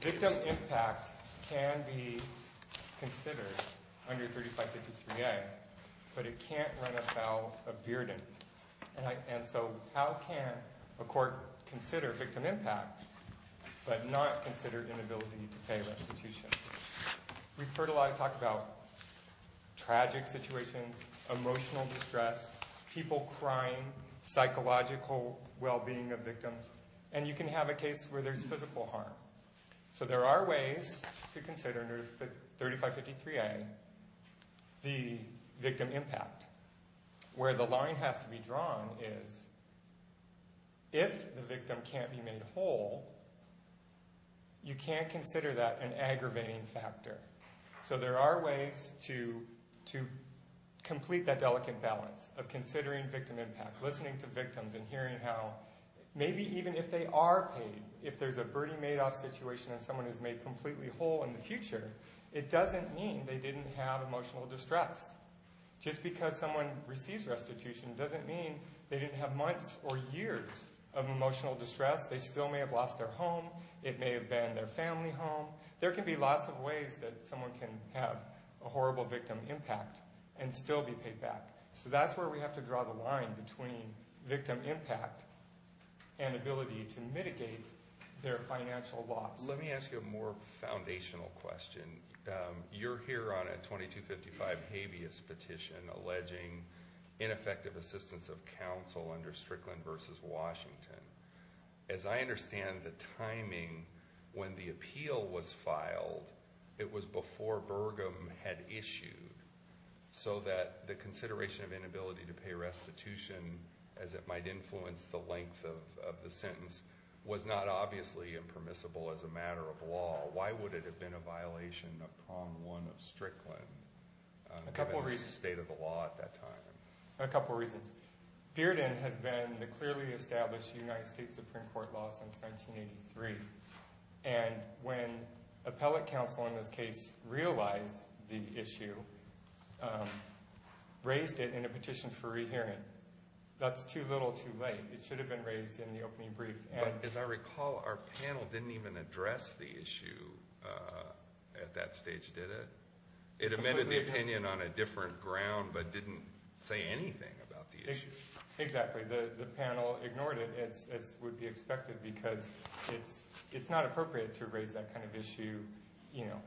Victim impact can be considered under 3553A, but it can't run afoul of Bearden. And so how can a court consider victim impact but not consider inability to pay restitution? We've heard a lot of talk about tragic situations, emotional distress, people crying, psychological well-being of victims, and you can have a case where there's physical harm. So there are ways to consider under 3553A the victim impact. Where the line has to be drawn is if the victim can't be made whole, you can't consider that an aggravating factor. So there are ways to complete that delicate balance of considering victim impact, listening to victims, and hearing how maybe even if they are paid, if there's a Bernie Madoff situation and someone is made completely whole in the future, it doesn't mean they didn't have emotional distress. Just because someone receives restitution doesn't mean they didn't have months or years of emotional distress. They still may have lost their home. It may have been their family home. There can be lots of ways that someone can have a horrible victim impact and still be paid back. So that's where we have to draw the line between victim impact and ability to mitigate their financial loss. Let me ask you a more foundational question. You're here on a 2255 habeas petition alleging ineffective assistance of counsel under Strickland v. Washington. As I understand the timing when the appeal was filed, it was before Burgum had issued, so that the consideration of inability to pay restitution, as it might influence the length of the sentence, was not obviously impermissible as a matter of law. Why would it have been a violation of Prong 1 of Strickland, the state of the law at that time? A couple of reasons. Bearden has been the clearly established United States Supreme Court law since 1983. And when appellate counsel in this case realized the issue, raised it in a petition for rehearing. That's too little, too late. It should have been raised in the opening brief. As I recall, our panel didn't even address the issue at that stage, did it? It amended the opinion on a different ground but didn't say anything about the issue. Exactly. The panel ignored it, as would be expected, because it's not appropriate to raise that kind of issue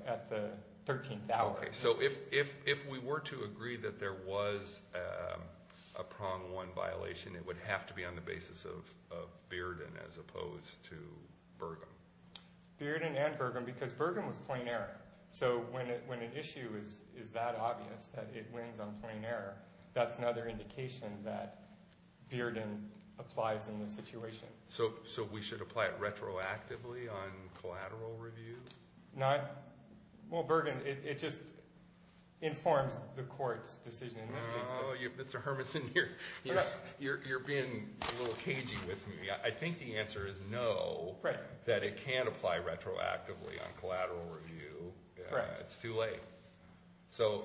at the 13th hour. Okay, so if we were to agree that there was a Prong 1 violation, it would have to be on the basis of Bearden as opposed to Burgum. Bearden and Burgum, because Burgum was plain error. So when an issue is that obvious that it wins on plain error, that's another indication that Bearden applies in this situation. So we should apply it retroactively on collateral review? Well, Burgum, it just informs the court's decision in this case. Mr. Hermanson, you're being a little cagey with me. I think the answer is no, that it can't apply retroactively on collateral review. It's too late. So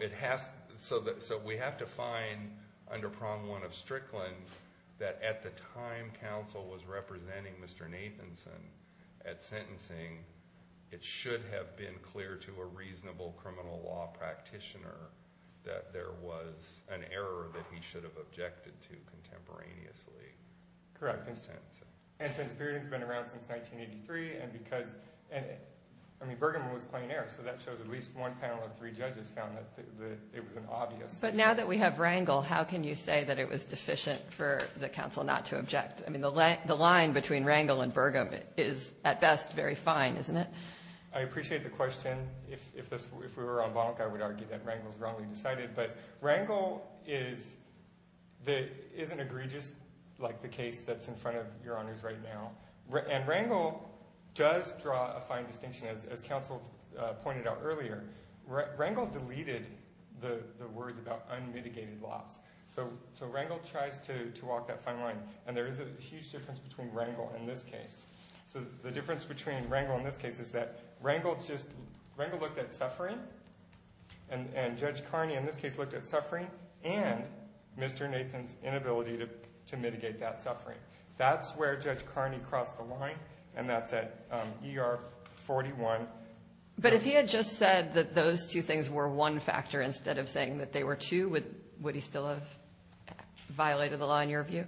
we have to find under Prong 1 of Strickland that at the time counsel was representing Mr. Nathanson at sentencing, it should have been clear to a reasonable criminal law practitioner that there was an error that he should have objected to contemporaneously. Correct. And since Bearden's been around since 1983, and because, I mean, Burgum was plain error, so that shows at least one panel of three judges found that it was an obvious. But now that we have Rangel, how can you say that it was deficient for the counsel not to object? I mean, the line between Rangel and Burgum is, at best, very fine, isn't it? I appreciate the question. If we were on bonk, I would argue that Rangel's wrongly decided. But Rangel is an egregious case that's in front of your honors right now. And Rangel does draw a fine distinction. As counsel pointed out earlier, Rangel deleted the words about unmitigated loss. So Rangel tries to walk that fine line. And there is a huge difference between Rangel and this case. So the difference between Rangel and this case is that Rangel looked at suffering, and Judge Carney in this case looked at suffering and Mr. Nathan's inability to mitigate that suffering. That's where Judge Carney crossed the line, and that's at ER 41. But if he had just said that those two things were one factor instead of saying that they were two, would he still have violated the law in your view?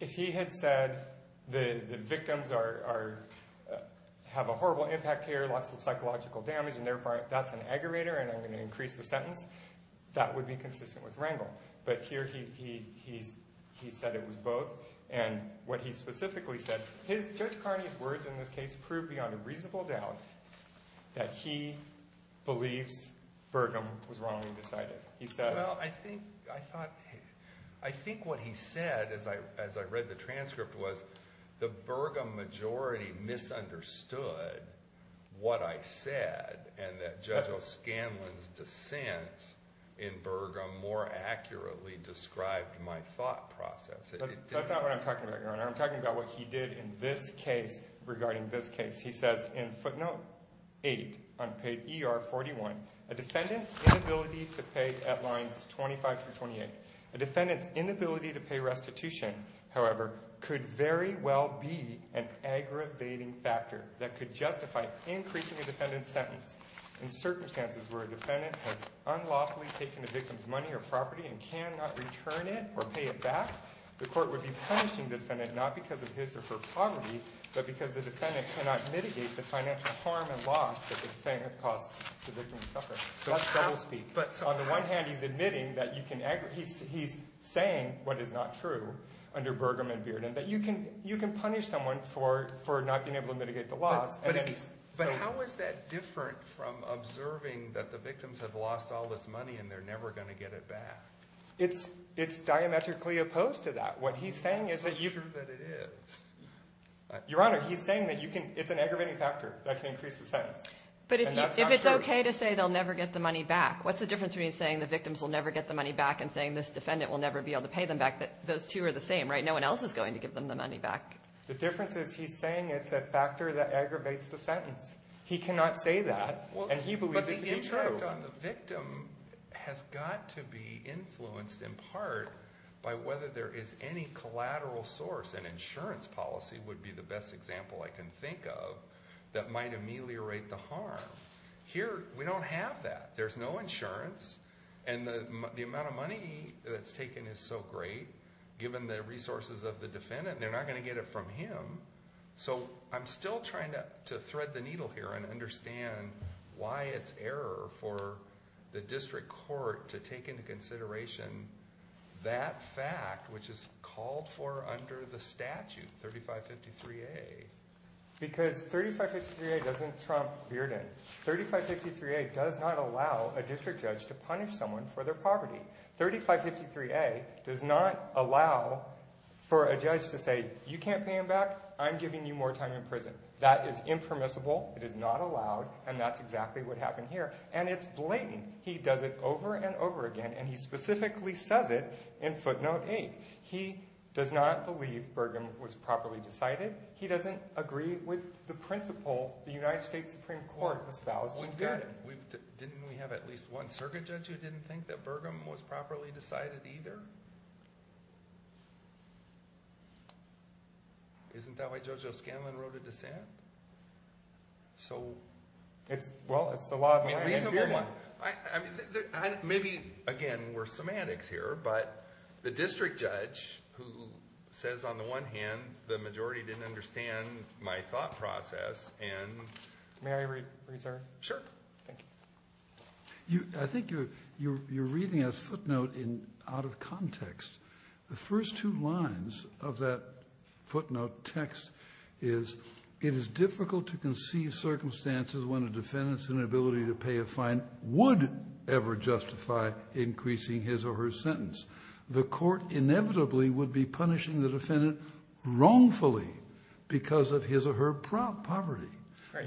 If he had said the victims have a horrible impact here, lots of psychological damage, and therefore that's an aggravator and I'm going to increase the sentence, that would be consistent with Rangel. But here he said it was both. And what he specifically said, Judge Carney's words in this case proved beyond a reasonable doubt that he believes Burgum was wrongly decided. Well, I think what he said as I read the transcript was the Burgum majority misunderstood what I said and that Judge O'Scanlan's dissent in Burgum more accurately described my thought process. That's not what I'm talking about, Your Honor. I'm talking about what he did in this case regarding this case. He says in footnote 8 on page ER 41, a defendant's inability to pay at lines 25 through 28. A defendant's inability to pay restitution, however, could very well be an aggravating factor that could justify increasing a defendant's sentence in circumstances where a defendant has unlawfully taken the victim's money or property and cannot return it or pay it back. The court would be punishing the defendant not because of his or her poverty, but because the defendant cannot mitigate the financial harm and loss that the defendant caused the victim to suffer. So that's double speak. On the one hand, he's admitting that you can – he's saying what is not true under Burgum and Bearden, that you can punish someone for not being able to mitigate the loss. But how is that different from observing that the victims have lost all this money and they're never going to get it back? It's diametrically opposed to that. It's not true that it is. Your Honor, he's saying that you can – it's an aggravating factor that can increase the sentence. And that's not true. But if it's okay to say they'll never get the money back, what's the difference between saying the victims will never get the money back and saying this defendant will never be able to pay them back? Those two are the same, right? No one else is going to give them the money back. The difference is he's saying it's a factor that aggravates the sentence. He cannot say that, and he believes it to be true. The victim has got to be influenced in part by whether there is any collateral source. An insurance policy would be the best example I can think of that might ameliorate the harm. Here, we don't have that. There's no insurance, and the amount of money that's taken is so great. Given the resources of the defendant, they're not going to get it from him. So I'm still trying to thread the needle here and understand why it's error for the district court to take into consideration that fact, which is called for under the statute, 3553A. Because 3553A doesn't trump Bearden. 3553A does not allow a district judge to punish someone for their poverty. 3553A does not allow for a judge to say, you can't pay him back, I'm giving you more time in prison. That is impermissible, it is not allowed, and that's exactly what happened here. And it's blatant. He does it over and over again, and he specifically says it in footnote 8. He does not believe Burgum was properly decided. He doesn't agree with the principle the United States Supreme Court espoused in Bearden. Didn't we have at least one circuit judge who didn't think that Burgum was properly decided either? Isn't that why Judge O'Scanlan wrote a dissent? Well, it's the law of the land. Maybe, again, we're semantics here, but the district judge who says on the one hand, the majority didn't understand my thought process, and... May I reserve? Sure. Thank you. I think you're reading a footnote out of context. The first two lines of that footnote text is, it is difficult to conceive circumstances when a defendant's inability to pay a fine would ever justify increasing his or her sentence. The court inevitably would be punishing the defendant wrongfully because of his or her poverty.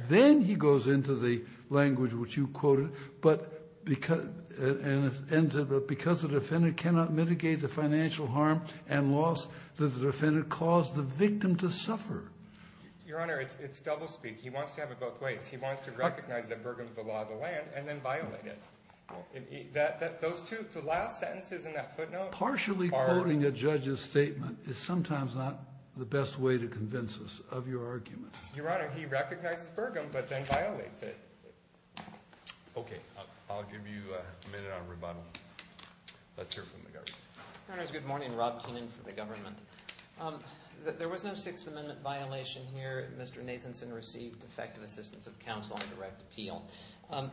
Then he goes into the language which you quoted, but because the defendant cannot mitigate the financial harm and loss that the defendant caused the victim to suffer. Your Honor, it's doublespeak. He wants to have it both ways. He wants to recognize that Burgum is the law of the land and then violate it. Those two, the last sentences in that footnote are... Partially quoting a judge's statement is sometimes not the best way to convince us of your argument. Your Honor, he recognizes Burgum but then violates it. Okay. I'll give you a minute on rebuttal. Let's hear from the government. Your Honor, good morning. Rob Keenan for the government. There was no Sixth Amendment violation here. Mr. Nathanson received effective assistance of counsel and direct appeal. And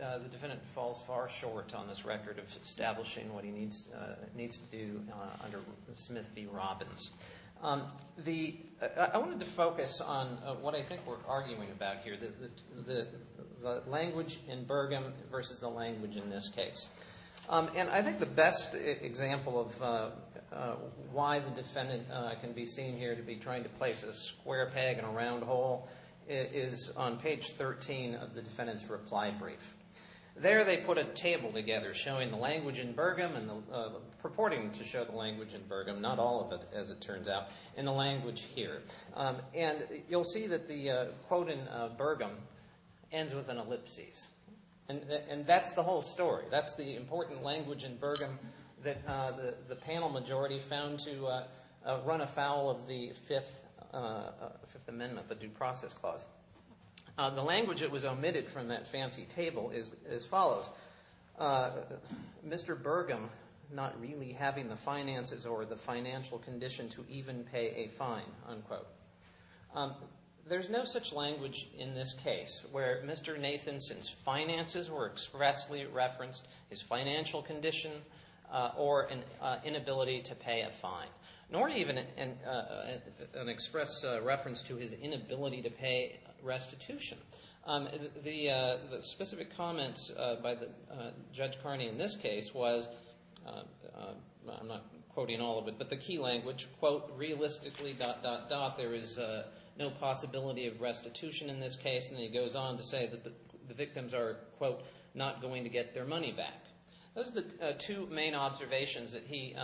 the defendant falls far short on this record of establishing what he needs to do under Smith v. Robbins. I wanted to focus on what I think we're arguing about here, the language in Burgum versus the language in this case. And I think the best example of why the defendant can be seen here to be trying to place a square peg in a round hole is on page 13 of the defendant's reply brief. There they put a table together showing the language in Burgum and purporting to show the language in Burgum, not all of it as it turns out, in the language here. And you'll see that the quote in Burgum ends with an ellipsis. And that's the whole story. That's the important language in Burgum that the panel majority found to run afoul of the Fifth Amendment, the Due Process Clause. The language that was omitted from that fancy table is as follows. Mr. Burgum not really having the finances or the financial condition to even pay a fine, unquote. There's no such language in this case where Mr. Nathanson's finances were expressly referenced, his financial condition, or an inability to pay a fine. Nor even an express reference to his inability to pay restitution. The specific comments by Judge Carney in this case was, I'm not quoting all of it, but the key language, quote, realistically, dot, dot, dot, there is no possibility of restitution in this case. And then he goes on to say that the victims are, quote, not going to get their money back. Those are the two main observations that he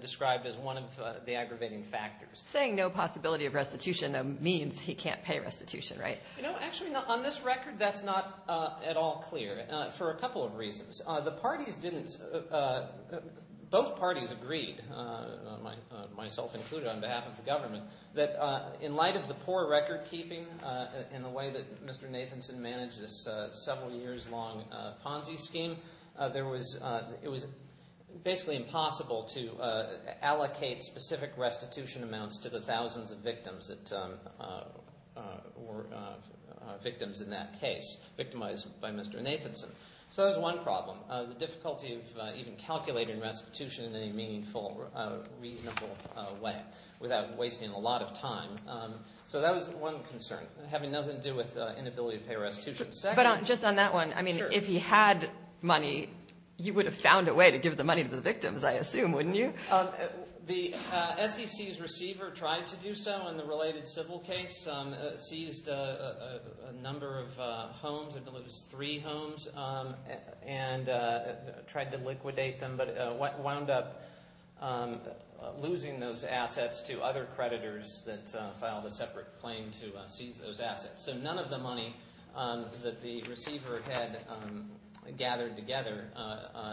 described as one of the aggravating factors. Saying no possibility of restitution, though, means he can't pay restitution, right? No, actually, on this record, that's not at all clear for a couple of reasons. Both parties agreed, myself included on behalf of the government, that in light of the poor record keeping in the way that Mr. Nathanson managed this several years long Ponzi scheme, it was basically impossible to allocate specific restitution amounts to the thousands of victims in that case, victimized by Mr. Nathanson. So that was one problem, the difficulty of even calculating restitution in a meaningful, reasonable way without wasting a lot of time. So that was one concern, having nothing to do with inability to pay restitution. But just on that one, I mean, if he had money, you would have found a way to give the money to the victims, I assume, wouldn't you? The SEC's receiver tried to do so in the related civil case, seized a number of homes, I believe it was three homes, and tried to liquidate them, but wound up losing those assets to other creditors that filed a separate claim to seize those assets. So none of the money that the receiver had gathered together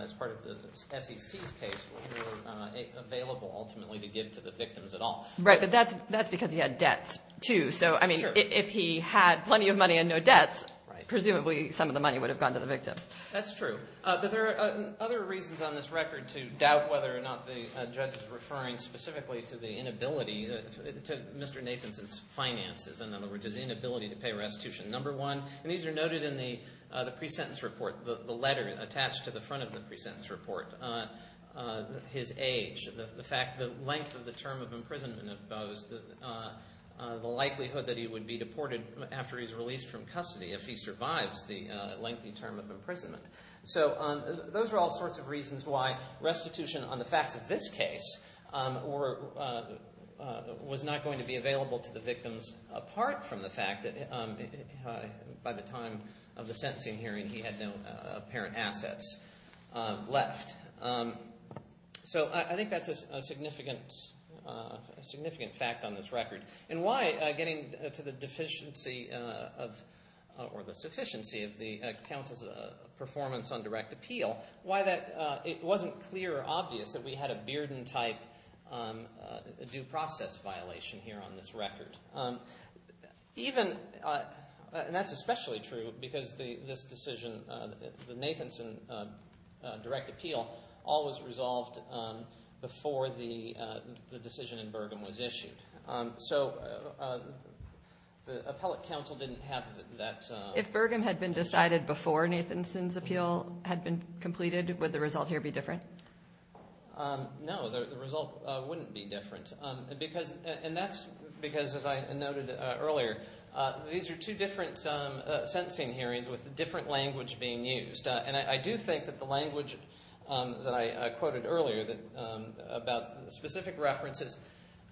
as part of the SEC's case were available ultimately to give to the victims at all. Right, but that's because he had debts, too. So, I mean, if he had plenty of money and no debts, presumably some of the money would have gone to the victims. That's true. But there are other reasons on this record to doubt whether or not the judge is referring specifically to the inability, to Mr. Nathanson's finances, in other words, his inability to pay restitution. Number one, and these are noted in the pre-sentence report, the letter attached to the front of the pre-sentence report, his age, the length of the term of imprisonment opposed, the likelihood that he would be deported after he's released from custody if he survives the lengthy term of imprisonment. So those are all sorts of reasons why restitution on the facts of this case was not going to be available to the victims, apart from the fact that by the time of the sentencing hearing he had no apparent assets left. So I think that's a significant fact on this record. And why, getting to the deficiency or the sufficiency of the counsel's performance on direct appeal, why it wasn't clear or obvious that we had a Bearden-type due process violation here on this record. Even, and that's especially true because this decision, the Nathanson direct appeal, all was resolved before the decision in Burgum was issued. So the appellate counsel didn't have that. If Burgum had been decided before Nathanson's appeal had been completed, would the result here be different? No, the result wouldn't be different. And that's because, as I noted earlier, these are two different sentencing hearings with different language being used. And I do think that the language that I quoted earlier about specific references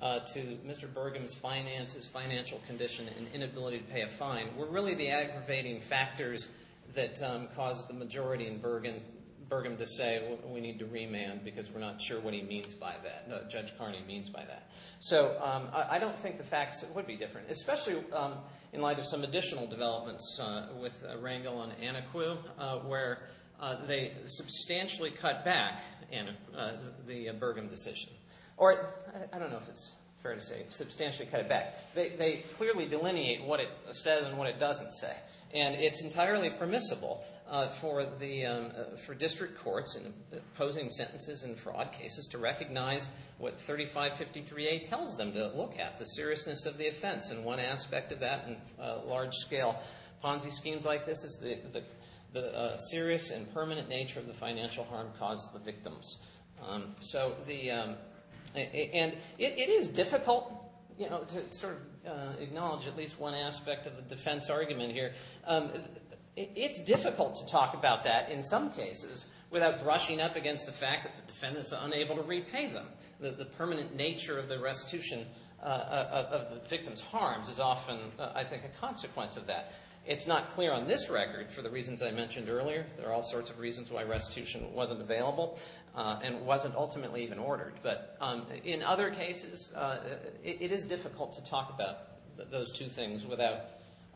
to Mr. Burgum's finances, financial condition, and inability to pay a fine were really the aggravating factors that caused the majority in Burgum to say, we need to remand because we're not sure what he means by that, what Judge Carney means by that. So I don't think the facts would be different, especially in light of some additional developments with Rangel and Anacu, where they substantially cut back the Burgum decision. Or, I don't know if it's fair to say, substantially cut it back. They clearly delineate what it says and what it doesn't say. And it's entirely permissible for district courts posing sentences in fraud cases to recognize what 3553A tells them to look at, the seriousness of the offense. And one aspect of that in large scale Ponzi schemes like this is the serious and permanent nature of the financial harm caused to the victims. And it is difficult to sort of acknowledge at least one aspect of the defense argument here. It's difficult to talk about that in some cases without brushing up against the fact that the defendant is unable to repay them. The permanent nature of the restitution of the victim's harms is often, I think, a consequence of that. It's not clear on this record for the reasons I mentioned earlier. There are all sorts of reasons why restitution wasn't available and wasn't ultimately even ordered. But in other cases, it is difficult to talk about those two things without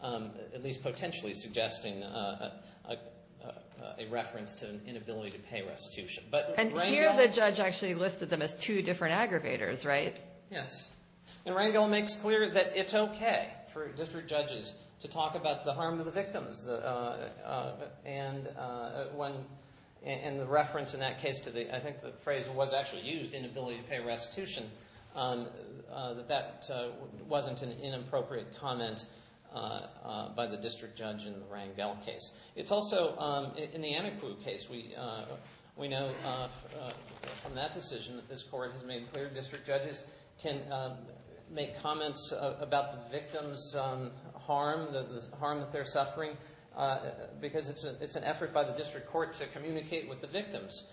at least potentially suggesting a reference to an inability to pay restitution. And here the judge actually listed them as two different aggravators, right? Yes. And Rangel makes clear that it's okay for district judges to talk about the harm to the victims. And when – and the reference in that case to the – I think the phrase was actually used, inability to pay restitution, that that wasn't an inappropriate comment by the district judge in the Rangel case. It's also – in the Ineclu case, we know from that decision that this court has made clear district judges can make comments about the victim's harm, the harm that they're suffering, because it's an effort by the district court to communicate with the victims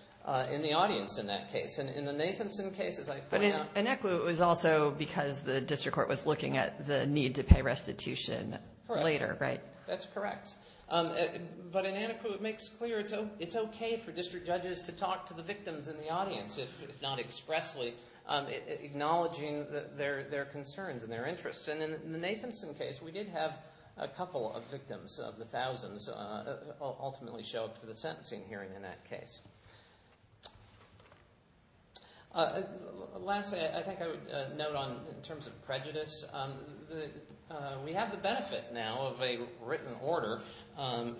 in the audience in that case. And in the Nathanson case, as I point out – But in Ineclu, it was also because the district court was looking at the need to pay restitution later, right? That's correct. But in Ineclu, it makes clear it's okay for district judges to talk to the victims in the audience, if not expressly acknowledging their concerns and their interests. And in the Nathanson case, we did have a couple of victims of the thousands ultimately show up for the sentencing hearing in that case. Lastly, I think I would note on – in terms of prejudice, we have the benefit now of a written order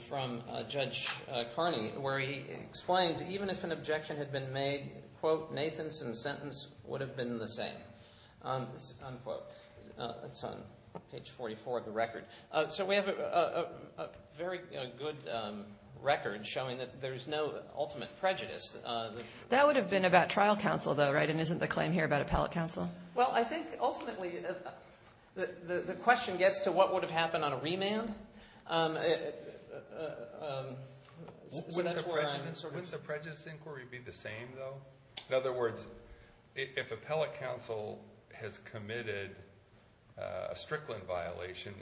from Judge Carney, where he explains even if an objection had been made, quote, Nathanson's sentence would have been the same, unquote. It's on page 44 of the record. So we have a very good record showing that there's no ultimate prejudice. That would have been about trial counsel, though, right? And isn't the claim here about appellate counsel? Well, I think ultimately the question gets to what would have happened on a remand. Wouldn't the prejudice inquiry be the same, though? In other words, if appellate counsel has committed a Strickland violation,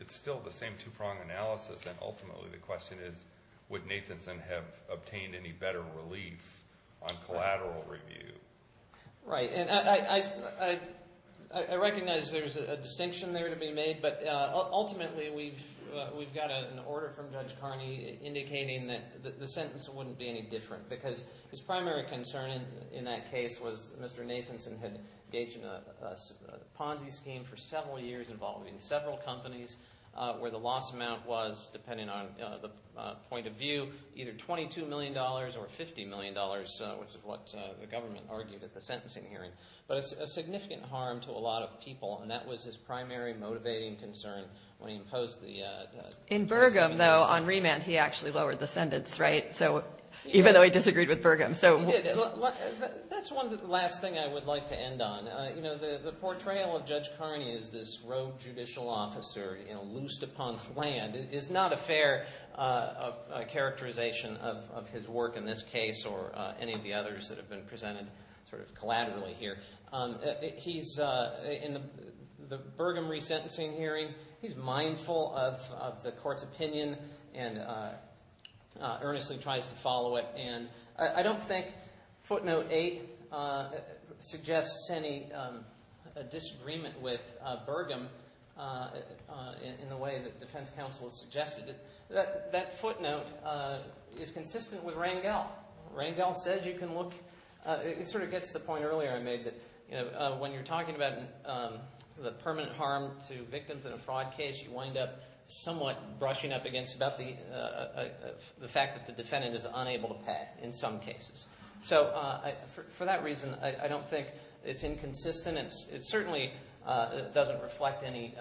it's still the same two-prong analysis, and ultimately the question is would Nathanson have obtained any better relief on collateral review? Right. And I recognize there's a distinction there to be made, but ultimately we've got an order from Judge Carney indicating that the sentence wouldn't be any different because his primary concern in that case was Mr. Nathanson had engaged in a Ponzi scheme for several years involving several companies where the loss amount was, depending on the point of view, either $22 million or $50 million, which is what the government argued at the sentencing hearing, but a significant harm to a lot of people, and that was his primary motivating concern when he imposed the – In Burgum, though, on remand he actually lowered the sentence, right? So even though he disagreed with Burgum. He did. That's one last thing I would like to end on. You know, the portrayal of Judge Carney as this rogue judicial officer, you know, loosed upon his land is not a fair characterization of his work in this case or any of the others that have been presented sort of collaterally here. He's – in the Burgum resentencing hearing, he's mindful of the court's opinion and earnestly tries to follow it, and I don't think footnote 8 suggests any disagreement with Burgum in the way that defense counsel has suggested it. Now, Rangel says you can look – it sort of gets to the point earlier I made that, you know, when you're talking about the permanent harm to victims in a fraud case, you wind up somewhat brushing up against about the fact that the defendant is unable to pay in some cases. So for that reason, I don't think it's inconsistent. It certainly doesn't reflect any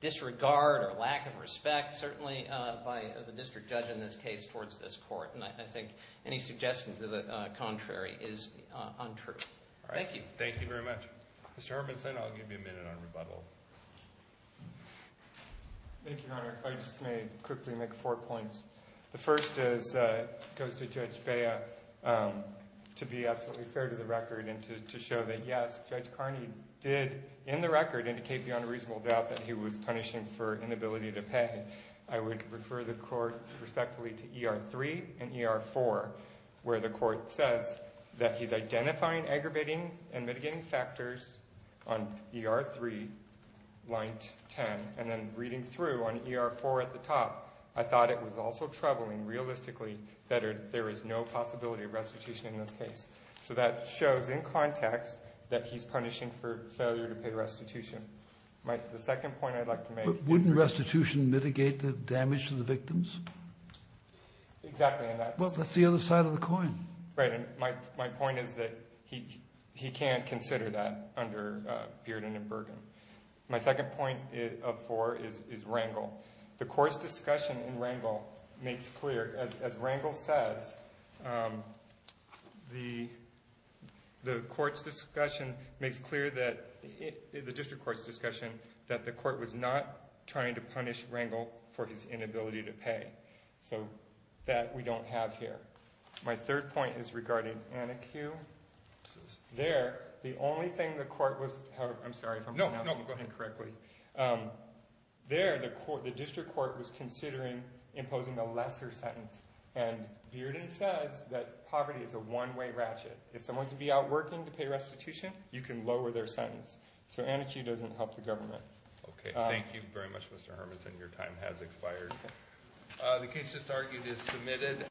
disregard or lack of respect, certainly by the district judge in this case towards this court, and I think any suggestion to the contrary is untrue. All right. Thank you. Thank you very much. Mr. Hartmanson, I'll give you a minute on rebuttal. Thank you, Your Honor. If I just may quickly make four points. The first is it goes to Judge Bea to be absolutely fair to the record and to show that, yes, Judge Carney did in the record indicate beyond a reasonable doubt that he was punishing for inability to pay. I would refer the court respectfully to ER-3 and ER-4, where the court says that he's identifying aggravating and mitigating factors on ER-3, line 10, and then reading through on ER-4 at the top, I thought it was also troubling realistically that there is no possibility of restitution in this case. So that shows in context that he's punishing for failure to pay restitution. The second point I'd like to make. But wouldn't restitution mitigate the damage to the victims? Exactly. Well, that's the other side of the coin. Right. My point is that he can't consider that under Bearden and Bergen. My second point of four is Rangel. The court's discussion in Rangel makes clear, as Rangel says, the court's discussion makes clear that the district court's discussion that the court was not trying to punish Rangel for his inability to pay. So that we don't have here. My third point is regarding Anna Q. There, the only thing the court was, however, I'm sorry if I'm pronouncing it incorrectly. No, no, go ahead. There, the district court was considering imposing a lesser sentence. And Bearden says that poverty is a one-way ratchet. If someone can be out working to pay restitution, you can lower their sentence. So Anna Q. doesn't help the government. Okay. Thank you very much, Mr. Hermanson. Your time has expired. The case just argued is submitted.